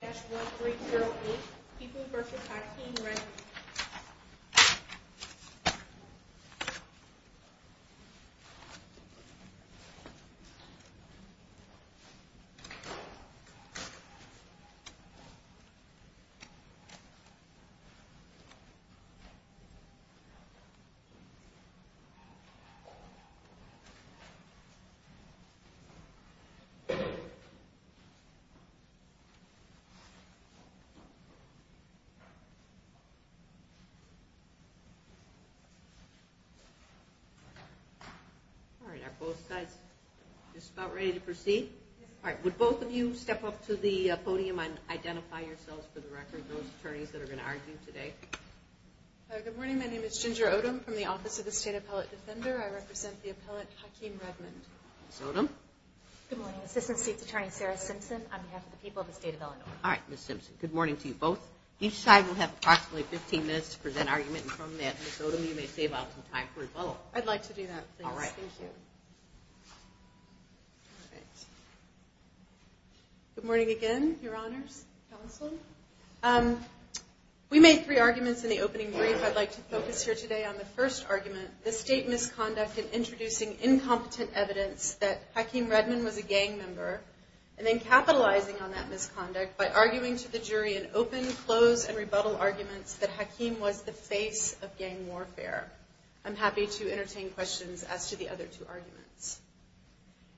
that's what week2 people vs packing right all right both sides just about ready to proceed all right with both of you step up to the podium and identify yourself for the record those attorneys that are going to argue today good morning my name is Ginger Odom from the office of the state appellate defender I represent the appellate Hakeem Redmond Odom good morning assistant state's attorney Sarah Simpson on behalf of the state of Illinois all right Miss Simpson good morning to you both each side will have approximately 15 minutes to present argument and from that Miss Odom you may save up some time for a vote I'd like to do that all right thank you all right good morning again your honors counsel we made three arguments in the opening brief I'd like to focus here today on the first argument the state misconduct and introducing incompetent evidence that Hakeem Redmond was a gang member and then capitalizing on that misconduct by arguing to the jury and open close and rebuttal arguments that Hakeem was the face of gang warfare I'm happy to entertain questions as to the other two arguments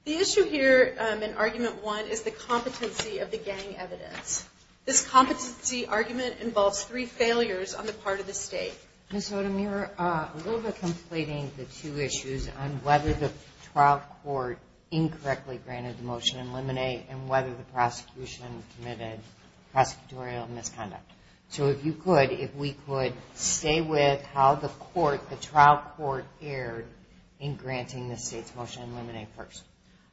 the issue here an argument one is the competency of the gang evidence this competency argument involves three failures on the part of the state Miss Odom you're a little bit issues on whether the trial court incorrectly granted the motion eliminate and whether the prosecution committed prosecutorial misconduct so if you could if we could stay with how the court the trial court erred in granting the state's motion eliminate first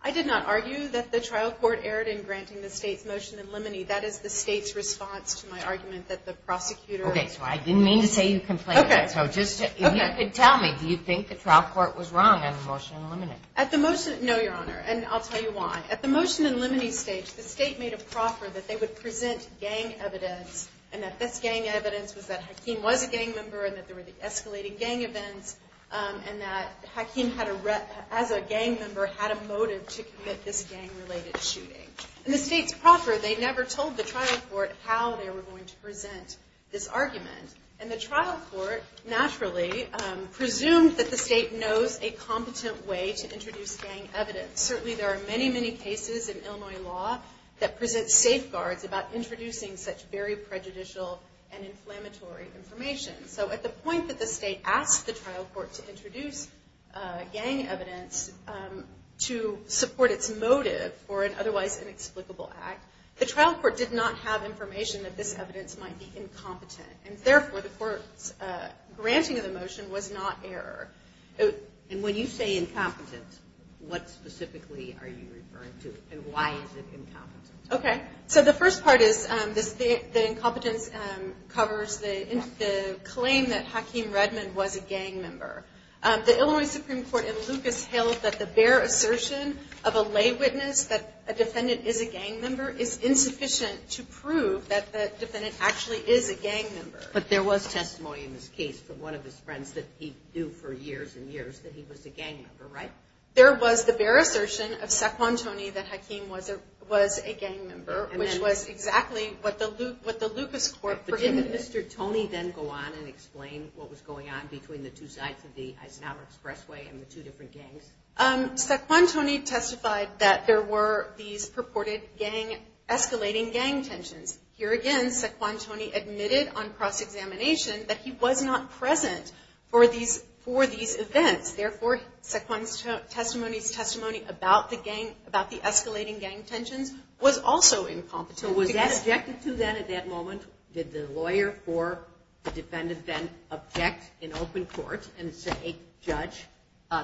I did not argue that the trial court erred in granting the state's motion eliminate that is the state's response to my argument that the prosecutor okay so I didn't mean to say you can play okay so just tell me do you think the trial court was wrong at the motion no your honor and I'll tell you why at the motion and limiting stage the state made a proffer that they would present gang evidence and that this gang evidence was that Hakeem was a gang member and that there were the escalating gang events and that Hakeem had a rep as a gang member had a motive to commit this gang related shooting and the state's proper they never told the trial court how they were going to present this argument and the trial court naturally presumed that the state knows a competent way to introduce gang evidence certainly there are many many cases in Illinois law that presents safeguards about introducing such very prejudicial and inflammatory information so at the point that the state asked the trial court to introduce gang evidence to support its motive for an otherwise inexplicable act the trial court did not have information that this evidence might be incompetent and therefore the court's granting of the motion was not error and when you say incompetence what specifically are you referring to and why is it incompetent okay so the first part is this the incompetence covers the claim that Hakeem Redmond was a gang member the Illinois Supreme Court in Lucas held that the bare assertion of a witness that a defendant is a gang member is insufficient to prove that the defendant actually is a gang member but there was testimony in this case from one of his friends that he knew for years and years that he was a gang member right there was the bare assertion of Saquon Tony that Hakeem was a was a gang member which was exactly what the Luke what the Lucas court for him mr. Tony then go on and explain what was going on between the two sides of the Eisenhower Expressway and the two different gangs um Saquon Tony testified that there were these purported gang escalating gang tensions here again Saquon Tony admitted on cross-examination that he was not present for these for these events therefore sequence testimonies testimony about the gang about the escalating gang tensions was also incompetent so was that objective to that at that moment did the lawyer for the defendant then object in open court and say judge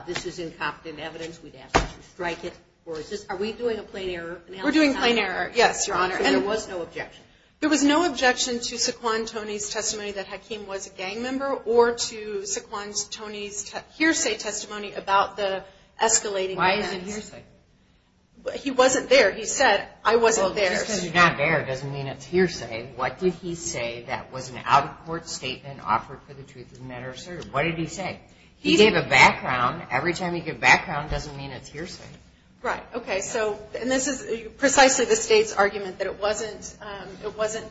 this is incompetent evidence we'd have to strike it or is this are we doing a plane error we're doing plane error yes your honor and it was no objection there was no objection to Saquon Tony's testimony that Hakeem was a gang member or to sequence Tony's hearsay testimony about the escalating why isn't here but he wasn't there he said I wasn't there not there doesn't mean it's hearsay what did he say that was an out-of-court statement offered for the truth of the matter sir what did he say he gave a background every time you give background doesn't mean it's hearsay right okay so and this is precisely the state's argument that it wasn't it wasn't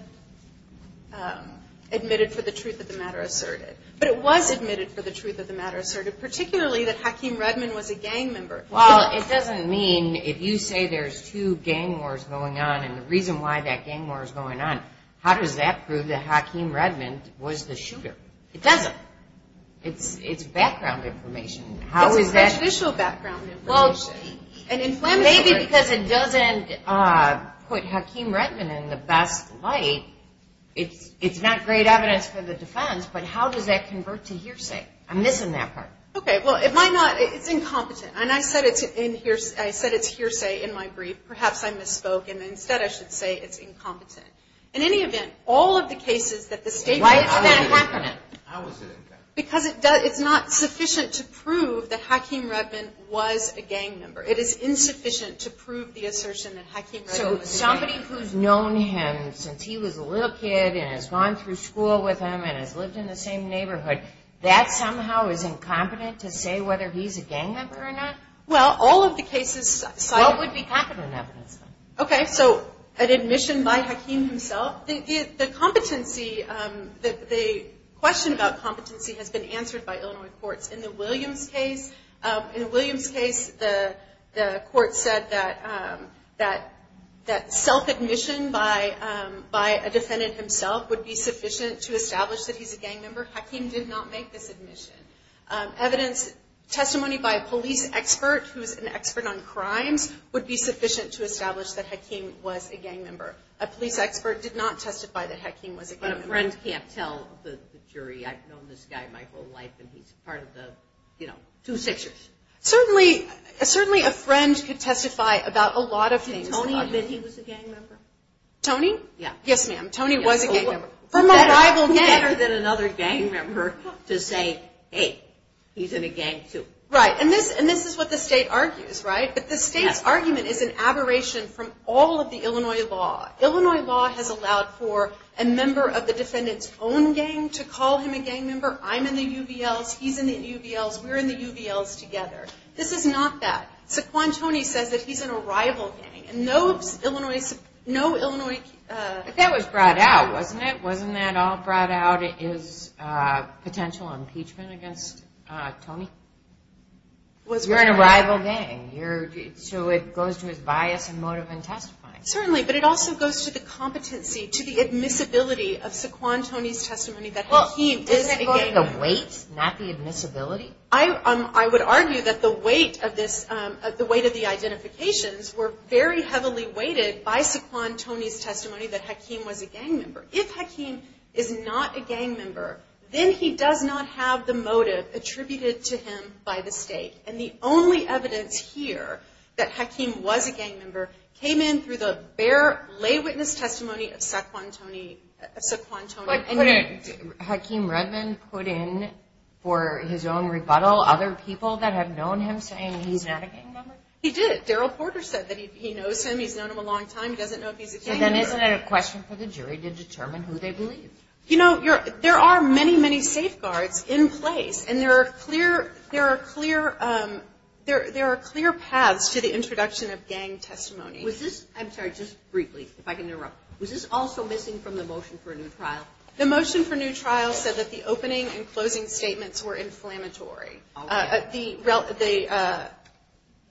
admitted for the truth of the matter asserted but it was admitted for the truth of the matter asserted particularly that Hakeem Redmond was a gang member well it doesn't mean if you say there's two gang wars going on and the reason why that gang war is going on how does that prove that Hakeem Redmond was the shooter it doesn't it's it's background information how is that official background well and in plan maybe because it doesn't put Hakeem Redmond in the best light it's it's not great evidence for the defense but how does that convert to hearsay I'm missing that part okay well it might not it's incompetent and I said it's in here I said it's hearsay in my brief perhaps I misspoke and instead I should say it's incompetent in any event all of the cases that the state why is that happening because it does it's not sufficient to prove that Hakeem Redmond was a gang member it is insufficient to prove the assertion that Hakeem somebody who's known him since he was a little kid and has gone through school with him and has lived in the same neighborhood that somehow is incompetent to say whether he's a gang member or not well all of the cases so I would be confident okay so an admission by Hakeem himself the competency that the question about competency has been answered by Illinois courts in the Williams case in Williams case the the court said that that that self-admission by by a defendant himself would be sufficient to establish that he's a gang member Hakeem did not make this admission evidence testimony by a police expert who is an expert on crimes would be sufficient to testify that Hakeem was a friend can't tell the jury I've known this guy my whole life and he's part of the you know two sixes certainly certainly a friend could testify about a lot of things only that he was a gang member Tony yeah yes ma'am Tony was a member from a rival never than another gang member to say hey he's in a gang too right and this and this is what the state argues right but the state's argument is an aberration from all of the Illinois law has allowed for a member of the defendants own gang to call him a gang member I'm in the UVL he's in the UVL we're in the UVLs together this is not that so Quan Tony says that he's in a rival gang and those Illinois no Illinois that was brought out wasn't it wasn't that all brought out is potential impeachment against Tony was we're in a rival gang you're so it goes to his bias certainly but it also goes to the competency to the admissibility of sequon Tony's testimony that well he is a weight not the admissibility I I would argue that the weight of this at the weight of the identifications were very heavily weighted by sequon Tony's testimony that Hakeem was a gang member if Hakeem is not a gang member then he does not have the motive attributed to by the state and the only evidence here that Hakeem was a gang member came in through the bear lay witness testimony of sequon Tony sequon Tony Hakeem Redmond put in for his own rebuttal other people that have known him saying he's not a gang member he did Daryl Porter said that he knows him he's known him a long time doesn't know if he's a kid then isn't it a question for the jury to determine who they believe you know you're there are many many safeguards in place and there are clear there are clear there there are clear paths to the introduction of gang testimony was this I'm sorry just briefly if I can interrupt was this also missing from the motion for a new trial the motion for new trial said that the opening and closing statements were inflammatory at the relative a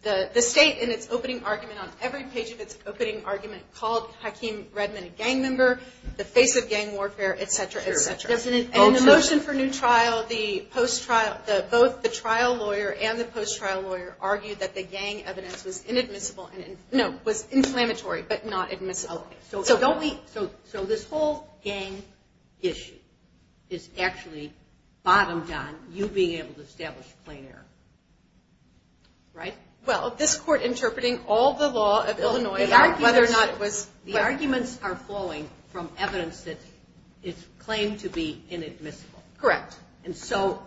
the the state in its opening argument on every page of its opening argument called Hakeem Redmond gang member the face of gang warfare etc etc motion for new trial the post trial the both the trial lawyer and the post trial lawyer argued that the gang evidence was inadmissible and it was inflammatory but not admissible so don't we so so this whole game issue is actually bottom down you being able to establish clear right well this court interpreting all the law of Illinois whether or not it was the arguments are flowing from evidence that it's claimed to be inadmissible correct and so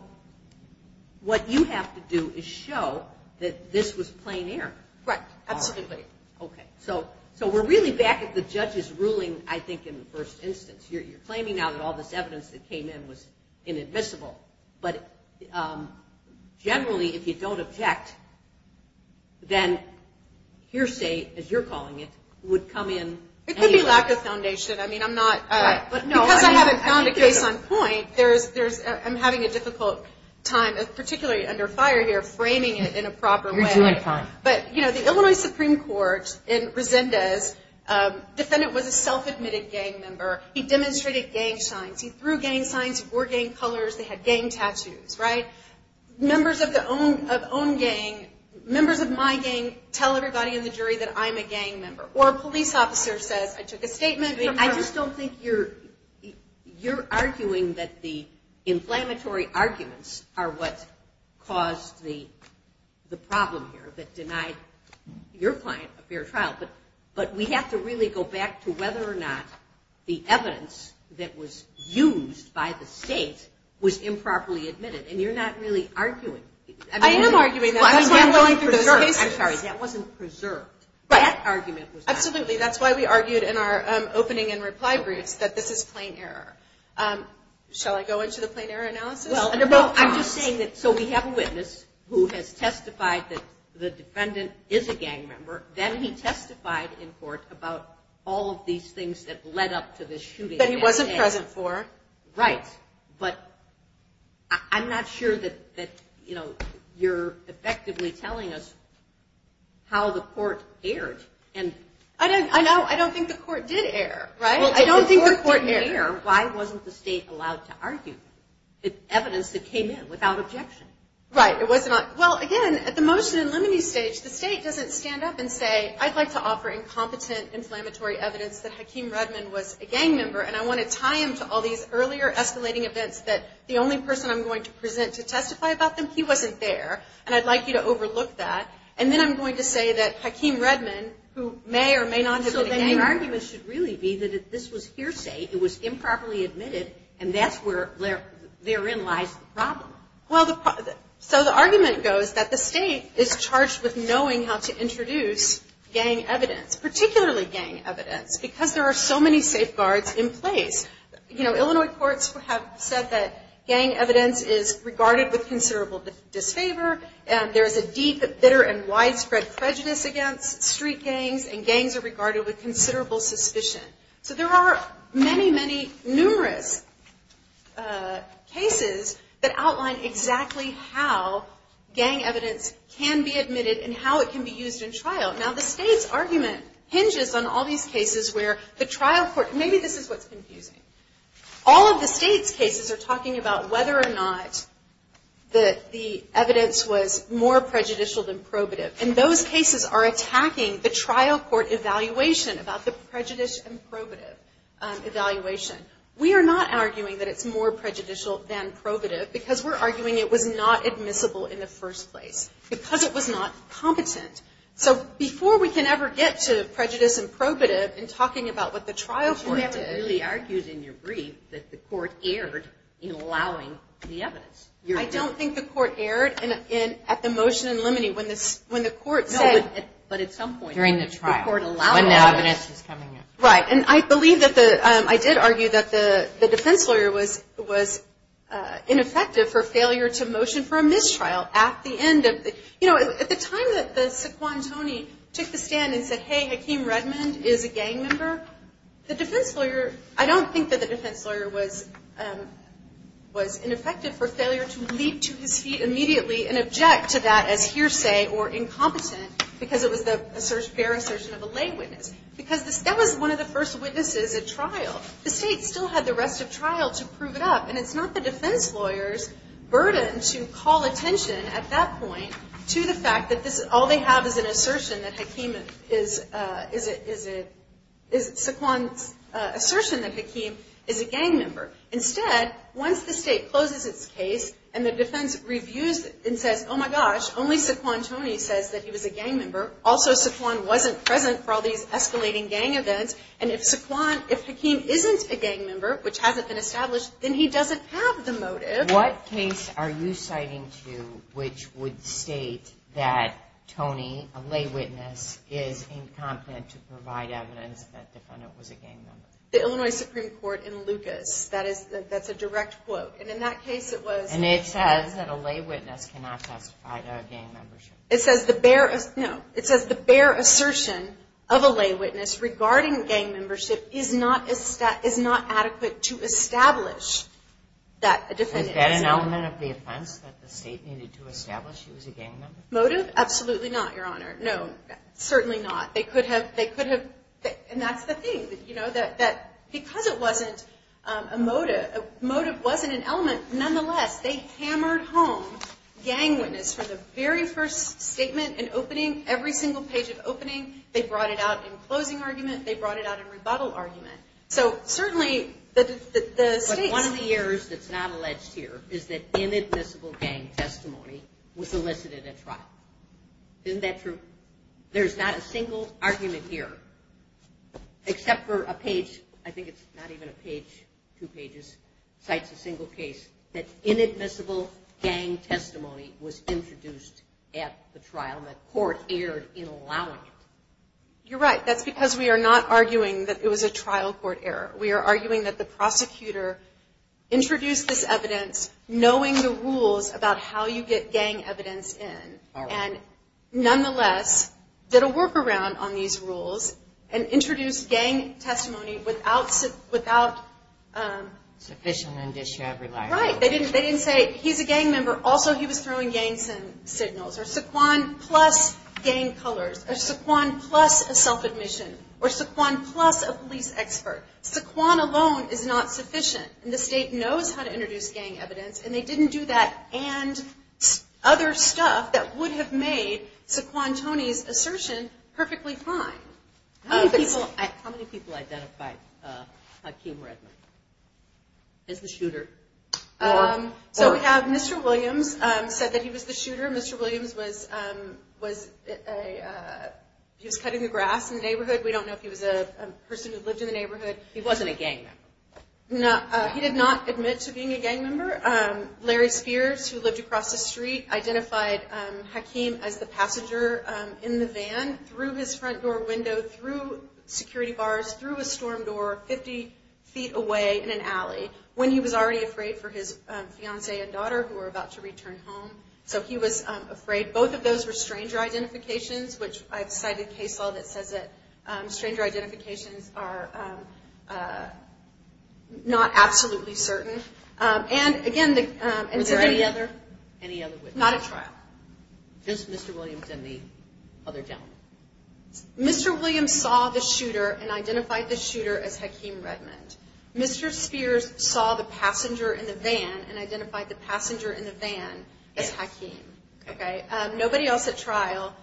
what you have to do is show that this was plain air right absolutely okay so so we're really back at the judge's ruling I think in the first instance here you're claiming now that all this evidence that came in was inadmissible but generally if you don't object then hearsay as you're calling it would come in it could be lack of foundation I mean I'm not but no I haven't found a case on point there's there's I'm having a difficult time particularly under fire here framing it in a proper way but you know the Illinois Supreme Court in Resendez defendant was a self-admitted gang member he demonstrated gang signs he threw gang signs were getting colors they had gang tattoos right members of the own of own gang members of my gang tell everybody in the jury that I'm a gang member or a police officer says I just don't think you're you're arguing that the inflammatory arguments are what caused the the problem here that denied your client a fair trial but but we have to really go back to whether or not the evidence that was used by the state was improperly admitted and you're not really arguing I am arguing that wasn't preserved but that argument was absolutely that's why we argued in our opening and reply briefs that this is plain error shall I go into the plain error analysis well under both I'm just saying that so we have a witness who has testified that the defendant is a gang member then he testified in court about all of these things that led up to this shooting that he wasn't present for right but I'm not sure that that you know you're effectively telling us how the court aired and I don't I know I don't think the court did air right I don't think the court near why wasn't the state allowed to argue it evidence that came in without objection right it was not well again at the motion in limine stage the state doesn't stand up and say I'd like to offer incompetent inflammatory evidence that Hakeem Redmond was a gang member and I want to tie him to all these earlier escalating events that the only person I'm going to present to testify about them he wasn't there and I'd like you to overlook that and then I'm going to say that Hakeem Redmond who may or may not so then your argument should really be that this was hearsay it was improperly admitted and that's where they're therein lies the problem well the so the argument goes that the state is charged with knowing how to introduce gang evidence particularly gang evidence because there are so many safeguards in place you know Illinois courts who have said that gang evidence is regarded with considerable disfavor and there's a deep bitter and widespread prejudice against street gangs and gangs are regarded with considerable suspicion so there are many many numerous cases that outline exactly how gang evidence can be admitted and how it can be used in trial now the state's argument hinges on all these cases where the trial court maybe this is what's confusing all of the state's talking about whether or not that the evidence was more prejudicial than probative and those cases are attacking the trial court evaluation about the prejudice and probative evaluation we are not arguing that it's more prejudicial than probative because we're arguing it was not admissible in the first place because it was not competent so before we can ever get to prejudice and probative and talking about what the trial court really argued in your brief that the court erred in allowing the evidence I don't think the court erred and in at the motion and limiting when this when the court said but at some point during the trial court allowed when the evidence is coming in right and I believe that the I did argue that the the defense lawyer was was ineffective for failure to motion for a mistrial at the end of the you know at the time that the sequon Tony took the stand and said hey Hakeem Redmond is a gang member the defense lawyer was was ineffective for failure to leap to his feet immediately and object to that as hearsay or incompetent because it was the search bear assertion of a lay witness because this that was one of the first witnesses at trial the state still had the rest of trial to prove it up and it's not the defense lawyers burden to call attention at that point to the fact that this is all they have is an assertion that Hakeem is is it is it is sequon assertion that Hakeem is a gang member instead once the state closes its case and the defense reviews it and says oh my gosh only sequon Tony says that he was a gang member also sequon wasn't present for all these escalating gang events and if sequon if Hakeem isn't a gang member which hasn't been established then he doesn't have the motive what case are you citing to which would state that Tony a lay witness is incompetent to provide evidence that the Illinois Supreme Court in Lucas that is that's a direct quote and in that case it was and it says that a lay witness cannot testify to a gang membership it says the bearer no it says the bear assertion of a lay witness regarding gang membership is not a stat is not adequate to establish that a different element of the offense that the state needed to establish it was a gang motive absolutely not your honor no certainly not they could have they could have and that's the thing that you know that that because it wasn't a motive motive wasn't an element nonetheless they hammered home gang witness for the very first statement and opening every single page of opening they brought it out in closing argument they brought it out in rebuttal argument so certainly that the state one of the errors that's not alleged here is that inadmissible gang testimony was elicited at trial isn't that true there's not a single argument here except for a page I think it's not even a page two pages sites a single case that inadmissible gang testimony was introduced at the trial that court erred in allowing it you're right that's because we are not arguing that it was a trial court error we are arguing that the prosecutor introduced this evidence knowing the rules about how you get gang evidence in and nonetheless did a workaround on these rules and introduce gang testimony without sufficient indicia right they didn't they didn't say he's a gang member also he was throwing gangs and signals or saquon plus gang colors or saquon plus a self-admission or saquon plus a police expert saquon alone is not sufficient and the state knows how to introduce gang evidence and they didn't do that and other stuff that would have made Saquon Tony's assertion perfectly fine how many people identified Hakeem Redman as the shooter so we have mr. Williams said that he was the shooter mr. Williams was was he was cutting the grass in the neighborhood we don't know if he was a person who lived in the neighborhood he wasn't a gang member no he did not admit to being a gang member Larry Spears who lived across the street identified Hakeem as the passenger in the van through his front door window through security bars through a storm door 50 feet away in an alley when he was already afraid for his fiancee and daughter who are about to return home so he was afraid both of those were stranger identifications which I've cited case law that says that not absolutely certain and again the other not a trial just mr. Williams in the other gentleman mr. Williams saw the shooter and identified the shooter as Hakeem Redmond mr. Spears saw the passenger in the van and identified the passenger in the van as Hakeem okay nobody else at trial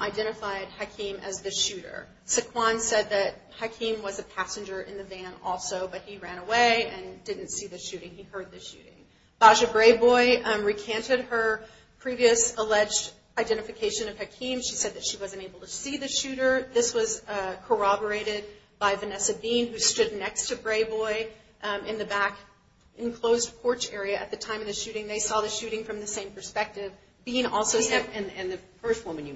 identified Hakeem as the shooter sequon said that Hakeem was a passenger in the van also but he ran away and didn't see the shooting he heard the shooting Baja Brayboy recanted her previous alleged identification of Hakeem she said that she wasn't able to see the shooter this was corroborated by Vanessa Bean who stood next to Brayboy in the back enclosed porch area at the time of the shooting they saw the shooting from the same perspective being also step and the first woman you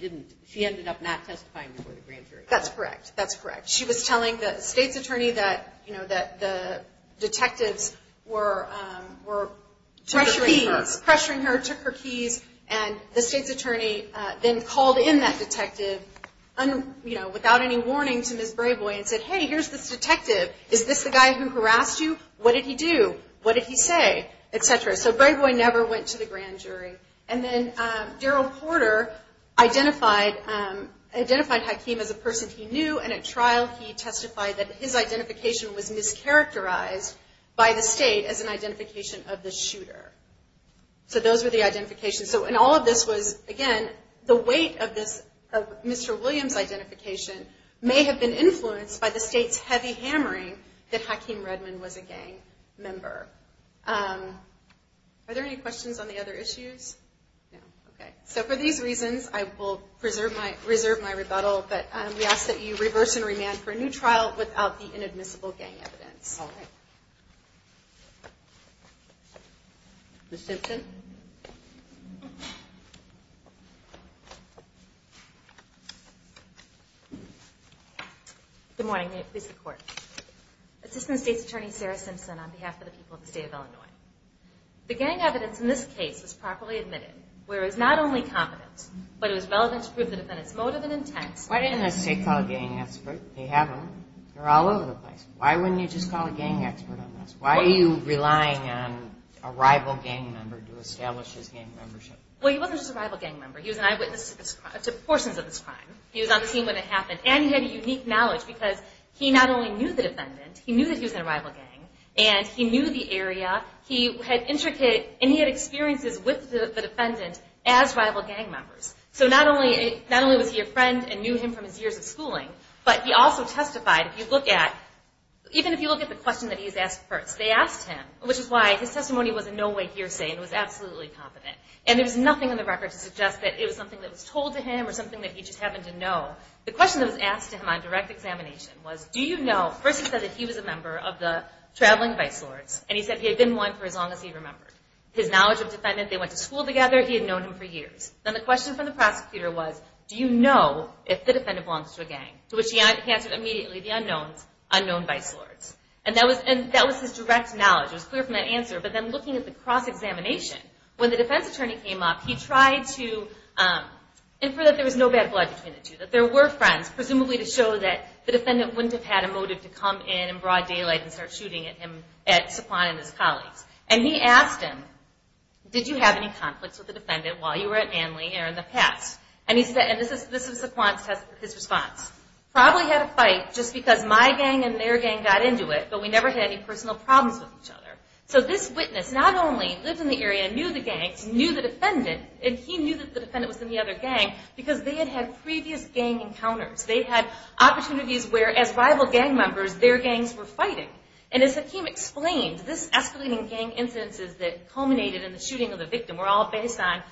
didn't she ended up not testifying before the grand jury that's correct that's correct she was telling the state's attorney that you know that the detectives were were pressuring her pressuring her took her keys and the state's attorney then called in that detective and you know without any warning to miss Brayboy and said hey here's this detective is this the guy who harassed you what did he do what did he say etc so Brayboy never went to the identified identified Hakeem as a person he knew and at trial he testified that his identification was mischaracterized by the state as an identification of the shooter so those were the identification so and all of this was again the weight of this mr. Williams identification may have been influenced by the state's heavy hammering that Hakeem Redmond was a gang member are there any questions on the other issues okay so for these reasons I will preserve my reserve my rebuttal but we ask that you reverse and remand for a new trial without the inadmissible gang evidence good morning it is the court assistant state's attorney Sarah Simpson on behalf of the people of the state of Illinois the gang evidence in this case was properly admitted where it's not only confidence but it was relevant to prove the defendant's motive and intent why didn't I say call a gang expert they have them they're all over the place why wouldn't you just call a gang expert on this why are you relying on a rival gang member to establish his gang membership well he wasn't just a rival gang member he was an eyewitness to portions of this time he was on the scene when it happened and he had a unique knowledge because he not only knew the defendant he knew that he was in a rival gang and he knew the area he had intricate and he had experiences with the defendant as rival gang members so not only not only was he a friend and knew him from his years of schooling but he also testified if you look at even if you look at the question that he's asked first they asked him which is why his testimony was in no way hearsay and was absolutely confident and there's nothing on the record to suggest that it was something that was told to him or something that he just happened to know the question that was asked to him on direct examination was do you know first he said that he was a member of the traveling vice lords and he said he had been one for as long as he remembered his knowledge of defendant they went to school together he had known him for years then the question from the prosecutor was do you know if the defendant belongs to a gang to which he answered immediately the unknowns unknown vice lords and that was and that was his direct knowledge was clear from that answer but then looking at the cross-examination when the defense attorney came up he tried to infer that there was no bad blood between the two that there were friends presumably to show that the defendant wouldn't have had a motive to come in and broad daylight and start shooting at him at Saquon and his colleagues and he asked him did you have any conflicts with the defendant while you were at Manly or in the past and he said and this is this is Saquon's test his response probably had a fight just because my gang and their gang got into it but we never had any personal problems with each other so this witness not only lived in the area knew the gangs knew the defendant and he knew that the defendant was in the other gang because they had had previous gang encounters they had opportunities where as rival gang members their gangs were fighting and as Hakeem explained this escalating gang incidences that culminated in the shooting of the victim were all based on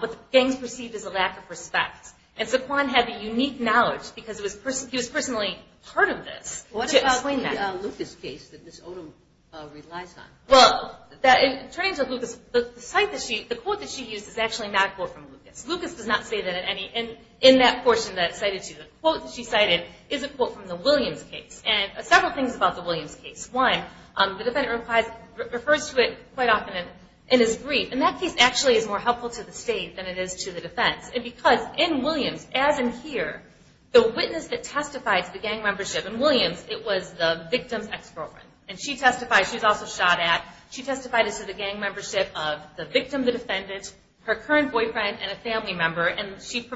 what the gangs perceived as a lack of respect and Saquon had a unique knowledge because it was person he was personally part of this. What about the Lucas case that Ms. Odom relies on? Well that in terms of Lucas the site that she the quote that she used is actually not a quote from Lucas. Lucas does not say that at any and in that portion that cited to the quote that she cited is a quote from the Williams case and several things about the Williams case. One, the defendant replies refers to it quite often in his brief and that case actually is more helpful to the state than it is to the defense and because in Williams as in here the witness that testified to the gang membership in Williams it was the victim's ex-girlfriend and she testified she was also shot at she testified as to the gang membership of the victim the defendant her current boyfriend and a family member and she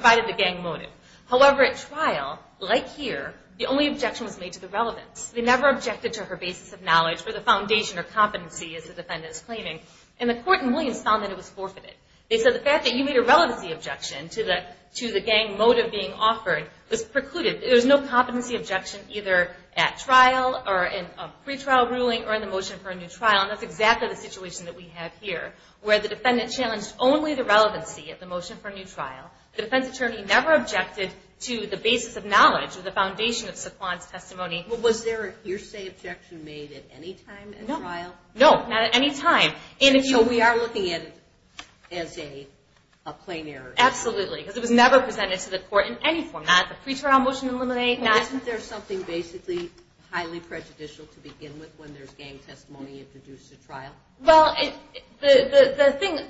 however at trial like here the only objection was made to the relevance. They never objected to her basis of knowledge for the foundation or competency as the defendant is claiming and the court in Williams found that it was forfeited. They said the fact that you made a relevancy objection to the to the gang motive being offered was precluded. There's no competency objection either at trial or in a pretrial ruling or in the motion for a new trial and that's exactly the situation that we have here where the defendant challenged only the to the basis of knowledge of the foundation of Suquan's testimony. Was there a hearsay objection made at any time? No not at any time. So we are looking at it as a plain error? Absolutely because it was never presented to the court in any format. The pretrial motion eliminate. Isn't there something basically highly prejudicial to begin with when there's gang testimony introduced at trial? Well the thing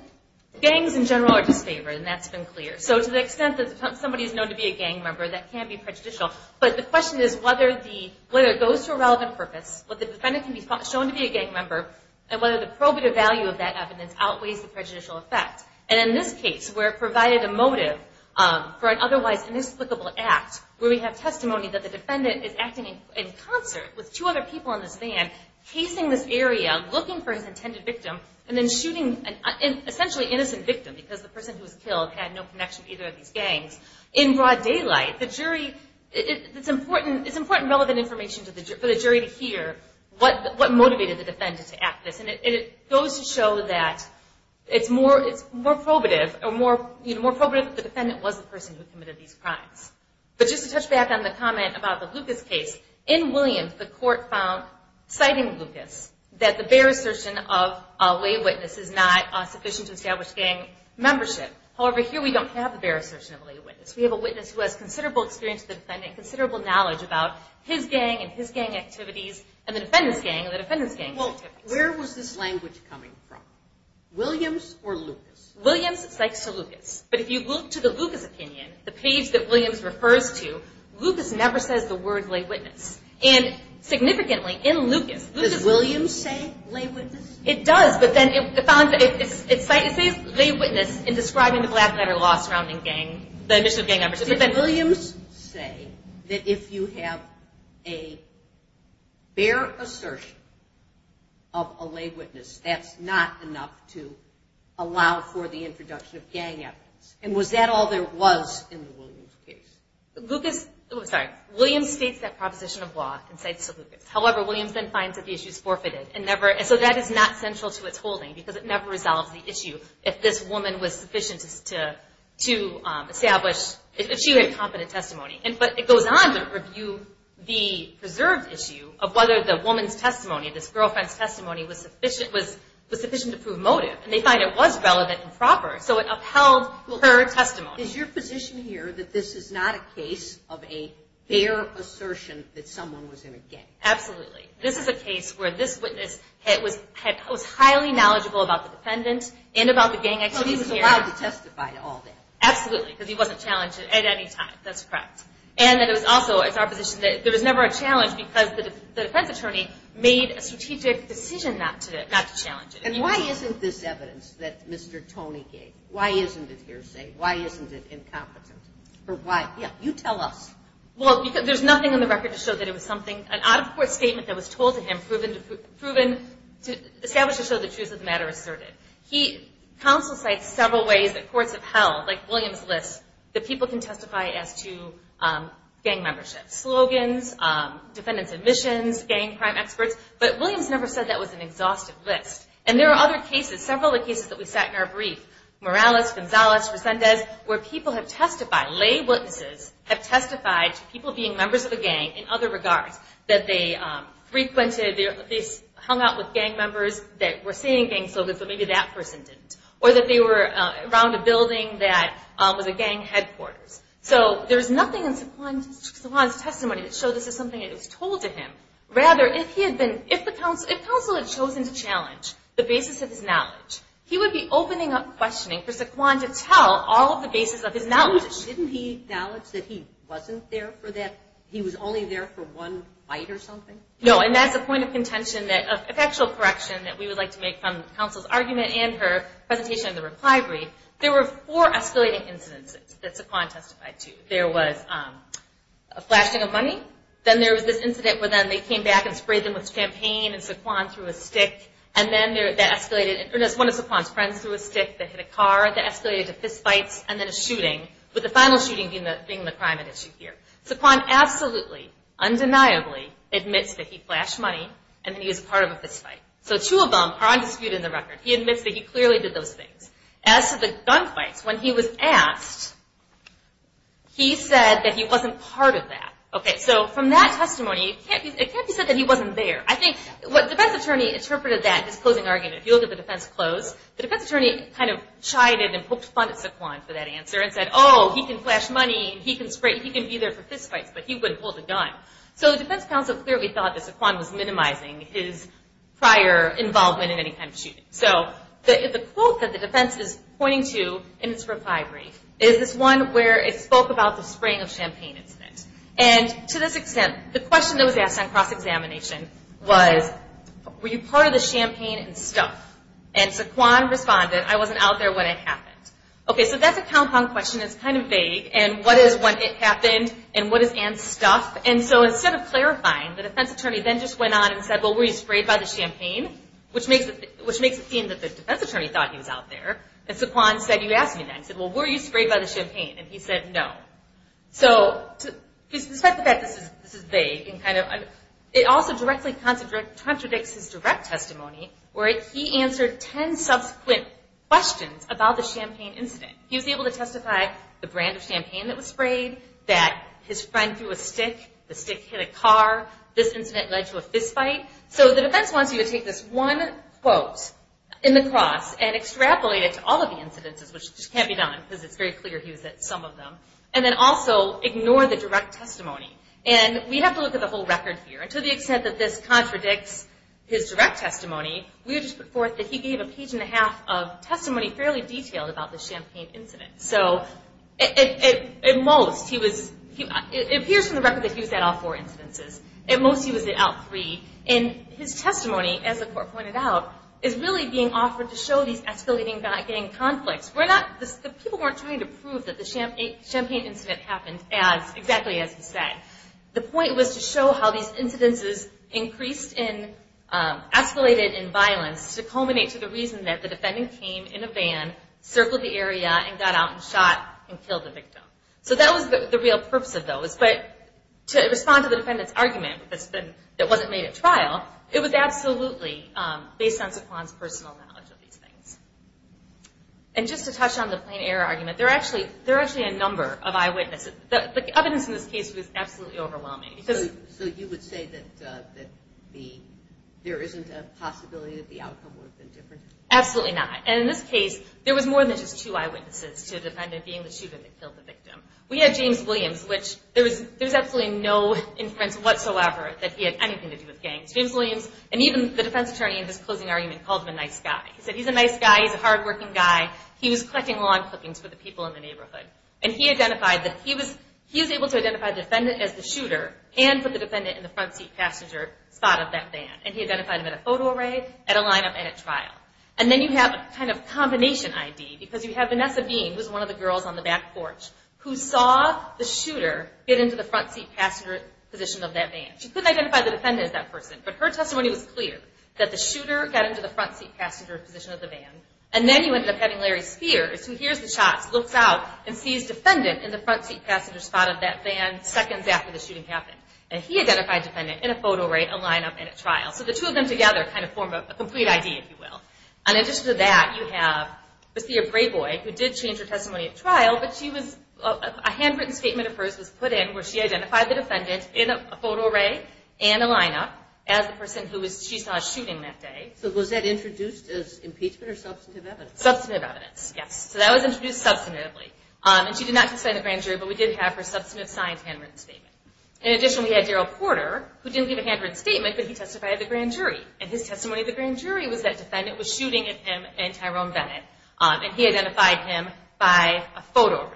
gangs in general are disfavored and that's been clear. So to the extent that somebody is known to be a gang member that can be prejudicial but the question is whether the whether it goes to a relevant purpose what the defendant can be shown to be a gang member and whether the probative value of that evidence outweighs the prejudicial effect and in this case we're provided a motive for an otherwise inexplicable act where we have testimony that the defendant is acting in concert with two other people in this van casing this area looking for his intended victim and then shooting an essentially innocent victim because the person who was killed had no connection either of these gangs. In broad daylight the jury it's important it's important relevant information to the jury to hear what what motivated the defendant to act this and it goes to show that it's more it's more probative or more you know more probative the defendant was the person who committed these crimes. But just to touch back on the comment about the Lucas case in Williams the court found citing Lucas that the bare assertion of a way witness is not sufficient to establish gang membership however here we don't have the bare assertion of a lay witness. We have a witness who has considerable experience the defendant considerable knowledge about his gang and his gang activities and the defendants gang and the defendants gang. Well where was this language coming from? Williams or Lucas? Williams it's like Sir Lucas but if you look to the Lucas opinion the page that Williams refers to Lucas never says the word lay witness and significantly in Lucas. Does Williams say lay witness? It does but then it found it's a lay witness in describing the black matter law surrounding gang membership. Did Williams say that if you have a bare assertion of a lay witness that's not enough to allow for the introduction of gang evidence and was that all there was in the Williams case? Lucas, sorry, Williams states that proposition of law and cites Sir Lucas however Williams then finds that the issue is forfeited and never and so that is not central to its holding because it never resolves the issue if this woman was sufficient to establish if she had competent testimony and but it goes on to review the preserved issue of whether the woman's testimony this girlfriend's testimony was sufficient was was sufficient to prove motive and they find it was relevant and proper so it upheld her testimony. Is your position here that this is not a case of a bare assertion that someone was in a gang? Absolutely this is a case where this witness was highly knowledgeable about the defendant and about the gang activity. So he was allowed to testify to all that? Absolutely because he wasn't challenged at any time that's correct and that it was also it's our position that there was never a challenge because the defense attorney made a strategic decision not to not to challenge it. And why isn't this evidence that Mr. Tony gave? Why isn't it hearsay? Why isn't it incompetent or why yeah you tell us. Well because there's nothing on the record to show that it was something an out-of-court statement that was told to him proven proven to establish to show the truth of the matter asserted. He counsel sites several ways that courts of hell like Williams lists that people can testify as to gang membership slogans defendants admissions gang crime experts but Williams never said that was an exhaustive list and there are other cases several of the cases that we sat in our brief Morales, Gonzalez, Resendez where people have testified lay that they frequented they hung out with gang members that were saying gang slogans but maybe that person didn't or that they were around a building that was a gang headquarters. So there's nothing in Saquon's testimony to show this is something that was told to him rather if he had been if the counsel had chosen to challenge the basis of his knowledge he would be opening up questioning for Saquon to tell all of the basis of his knowledge. Didn't he acknowledge that he was only there for one bite or something? No and that's a point of contention that a factual correction that we would like to make from counsel's argument and her presentation in the reply brief there were four escalating incidents that Saquon testified to. There was a flashing of money then there was this incident where then they came back and sprayed them with champagne and Saquon threw a stick and then there that escalated and as one of Saquon's friends threw a stick that hit a car that escalated to fistfights and then a shooting with the final shooting being the thing the primary issue here. Saquon absolutely undeniably admits that he flashed money and he was a part of a fistfight. So two of them are on dispute in the record. He admits that he clearly did those things. As to the gunfights when he was asked he said that he wasn't part of that. Okay so from that testimony it can't be said that he wasn't there. I think what the defense attorney interpreted that his closing argument if you look at the defense close the defense attorney kind of chided and poked fun at Saquon for that answer and said oh he can flash money he can spray he can be there for fistfights but he wouldn't hold a gun. So the defense counsel clearly thought that Saquon was minimizing his prior involvement in any kind of shooting. So the quote that the defense is pointing to in its recovery is this one where it spoke about the spraying of champagne incident and to this extent the question that was asked on cross-examination was were you part of the champagne and stuff? And Saquon responded I wasn't out there when it happened. Okay so that's a compound question that's kind of vague and what is when it happened and what is and stuff and so instead of clarifying the defense attorney then just went on and said well were you sprayed by the champagne which makes it which makes it seem that the defense attorney thought he was out there and Saquon said you asked me that. He said well were you sprayed by the champagne and he said no. So despite the fact that this is vague and kind of it also directly contradicts his direct testimony where he answered ten subsequent questions about the champagne incident. He was able to identify the brand of champagne that was sprayed, that his friend threw a stick, the stick hit a car, this incident led to a fistfight. So the defense wants you to take this one quote in the cross and extrapolate it to all of the incidences which just can't be done because it's very clear he was at some of them and then also ignore the direct testimony and we have to look at the whole record here and to the extent that this contradicts his direct testimony we just put forth that he gave a page and a half of testimony fairly detailed about the champagne incident so at most he was, it appears from the record that he was at all four incidences. At most he was out three and his testimony as the court pointed out is really being offered to show these escalating back gang conflicts. We're not the people weren't trying to prove that the champagne incident happened as exactly as he said. The point was to show how these incidences increased in escalated in violence to culminate to the reason that the defendant came in a victim. So that was the real purpose of those but to respond to the defendant's argument that wasn't made at trial it was absolutely based on Zaquan's personal knowledge of these things. And just to touch on the plain-error argument, there are actually a number of eyewitnesses. The evidence in this case was absolutely overwhelming. So you would say that there isn't a possibility that the outcome would have been different? Absolutely not and in this case there was more than just two eyewitnesses to the defendant being the shooter that killed the victim. We had James Williams which there was there's absolutely no inference whatsoever that he had anything to do with gangs. James Williams and even the defense attorney in this closing argument called him a nice guy. He said he's a nice guy, he's a hard-working guy, he was collecting lawn clippings for the people in the neighborhood. And he identified that he was he was able to identify the defendant as the shooter and put the defendant in the front seat passenger spot of that van. And he identified him at a photo array, at a lineup, and at trial. And then you have a kind of combination ID because you have Vanessa Bean was one of the girls on the back porch who saw the shooter get into the front seat passenger position of that van. She couldn't identify the defendant as that person but her testimony was clear that the shooter got into the front seat passenger position of the van. And then you ended up having Larry Spears who hears the shots, looks out, and sees defendant in the front seat passenger spot of that van seconds after the shooting happened. And he identified defendant in a photo array, a lineup, and at trial. So the two of them together kind of form a complete ID if you will. And then we also have Lucia Brayboy who did change her testimony at trial but she was, a handwritten statement of hers was put in where she identified the defendant in a photo array and a lineup as the person who was, she saw shooting that day. So was that introduced as impeachment or substantive evidence? Substantive evidence, yes. So that was introduced substantively. And she did not testify in the grand jury but we did have her substantive signed handwritten statement. In addition we had Darryl Porter who didn't give a handwritten statement but he testified at the grand jury. And his name was Jerome Bennett. And he identified him by a photo array.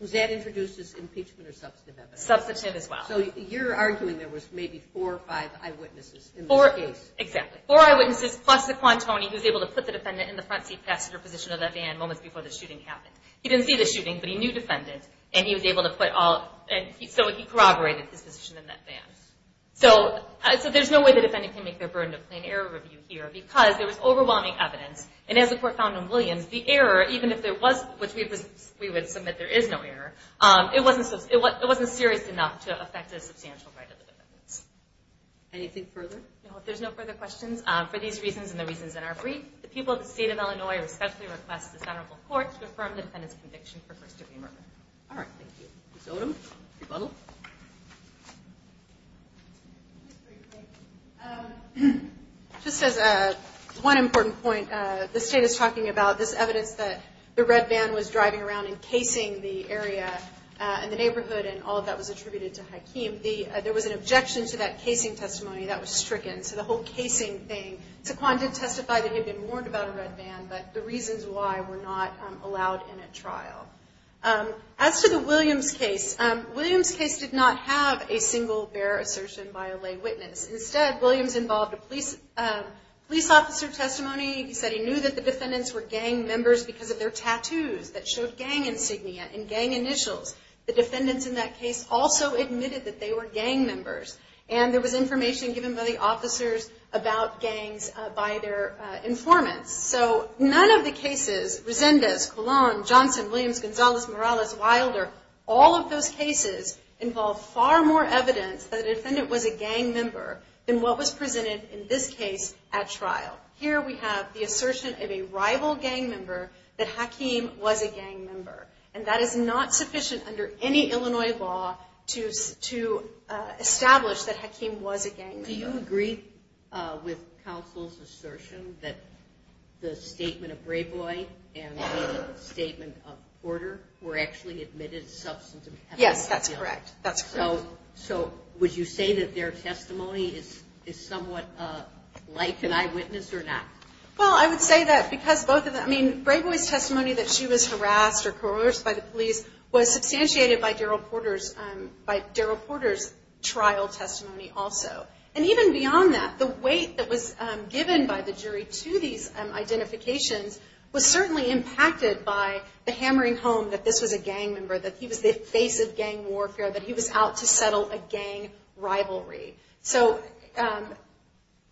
Was that introduced as impeachment or substantive evidence? Substantive as well. So you're arguing there was maybe four or five eyewitnesses in this case? Four, exactly. Four eyewitnesses plus the quantoni who was able to put the defendant in the front seat passenger position of that van moments before the shooting happened. He didn't see the shooting but he knew defendant and he was able to put all, so he corroborated his position in that van. So there's no way the defendant can make their burden of plain error review here because there was overwhelming evidence. And as the court found in Williams, the error, even if there was, which we would submit there is no error, it wasn't serious enough to affect a substantial right of the defendant. Anything further? No, if there's no further questions, for these reasons and the reasons in our brief, the people of the state of Illinois respectfully request the federal court to affirm the defendant's conviction for first degree murder. All right, thank you. Ms. Odom, rebuttal. Just as one important point, the state is talking about this evidence that the red van was driving around and casing the area and the neighborhood and all of that was attributed to Hakeem. There was an objection to that casing testimony that was stricken. So the whole casing thing, Taquan did testify that he had been warned about a red van, but the reasons why were not allowed in a trial. As to the Williams case, Williams case did not have a single bare assertion by a lay witness. Instead, Williams involved a police police officer testimony. He said he knew that the defendants were gang members because of their tattoos that showed gang insignia and gang initials. The defendants in that case also admitted that they were gang members, and there was information given by the officers about gangs by their informants. So none of the cases, Resendez, Colon, Johnson, Williams, Gonzalez, Morales, Wilder, all of those cases involve far more evidence that a defendant was a gang member than what was presented in this case at trial. Here we have the assertion of a rival gang member that Hakeem was a gang member, and that is not sufficient under any Illinois law to establish that Hakeem was a gang member. Do you agree with counsel's assertion that the statement of Brayboy and the statement of Porter were actually admitted as substantive? Yes, that's correct. That's correct. So would you say that their testimony is somewhat like an eyewitness or not? Well, I would say that because both of them, I mean, Brayboy's testimony that she was harassed or coerced by the police was substantiated by Darryl Porter's by Darryl Porter's trial testimony also. And even beyond that, the weight that was given by the jury to these identifications was certainly impacted by the hammering home that this was a gang member, that he was the face of gang warfare, that he was out to settle a gang rivalry. So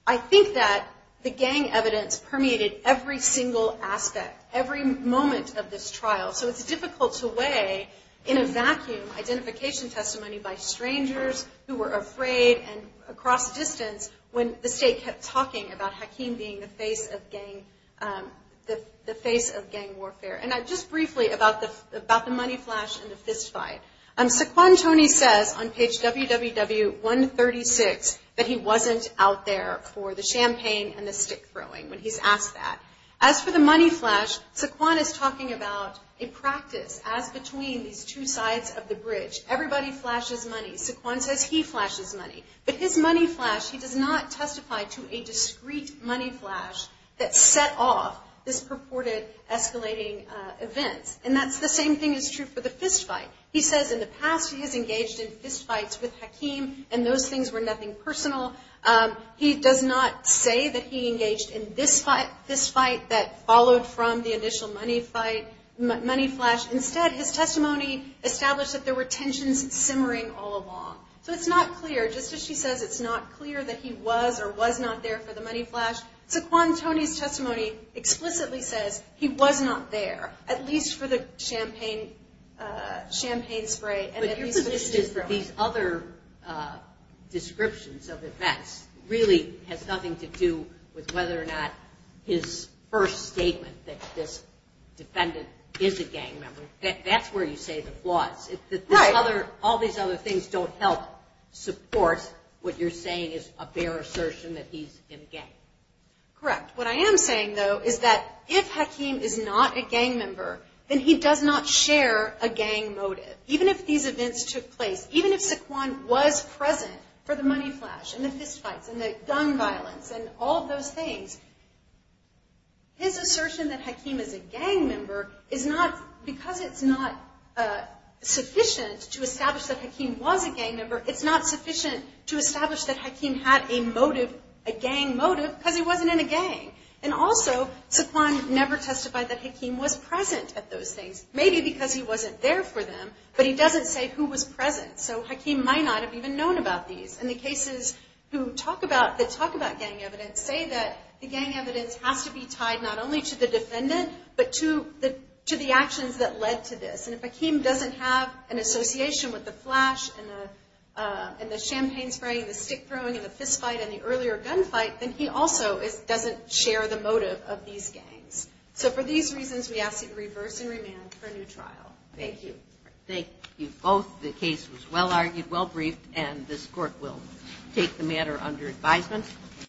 I think that the gang evidence permeated every single aspect, every moment of this trial. So it's difficult to weigh, in a vacuum, identification testimony by strangers who were afraid and across distance when the state kept talking about Hakeem being the face of gang warfare. And just briefly about the money flash and the fist fight. Saquon Tony says on page www136 that he wasn't out there for the champagne and the stick throwing when he's asked that. As for the money flash, Saquon is talking about a practice as between these two money. Saquon says he flashes money. But his money flash, he does not testify to a discreet money flash that set off this purported escalating events. And that's the same thing is true for the fist fight. He says in the past he has engaged in fist fights with Hakeem and those things were nothing personal. He does not say that he engaged in this fight, this fight that followed from the initial money fight, money flash. Instead, his testimony established that there were tensions simmering all along. So it's not clear, just as she says, it's not clear that he was or was not there for the money flash. Saquon Tony's testimony explicitly says he was not there, at least for the champagne spray. But your position is that these other descriptions of events really has nothing to do with whether or not his first statement that this defendant is a gang member. That's where you say the flaws. All these other things don't help support what you're saying is a bare assertion that he's in gang. Correct. What I am saying, though, is that if Hakeem is not a gang member, then he does not share a gang motive. Even if these events took place, even if Saquon was present for the money flash and the fist fights and the gun violence and all of those things, his assertion that because it's not sufficient to establish that Hakeem was a gang member, it's not sufficient to establish that Hakeem had a motive, a gang motive, because he wasn't in a gang. And also, Saquon never testified that Hakeem was present at those things, maybe because he wasn't there for them, but he doesn't say who was present. So Hakeem might not have even known about these. And the cases that talk about gang evidence say that the gang to the actions that led to this. And if Hakeem doesn't have an association with the flash and the champagne spraying, the stick throwing and the fist fight and the earlier gunfight, then he also doesn't share the motive of these gangs. So for these reasons, we ask you to reverse and remand for a new trial. Thank you. Thank you both. The case was well-argued, well-briefed, and this court will take the matter under advisement.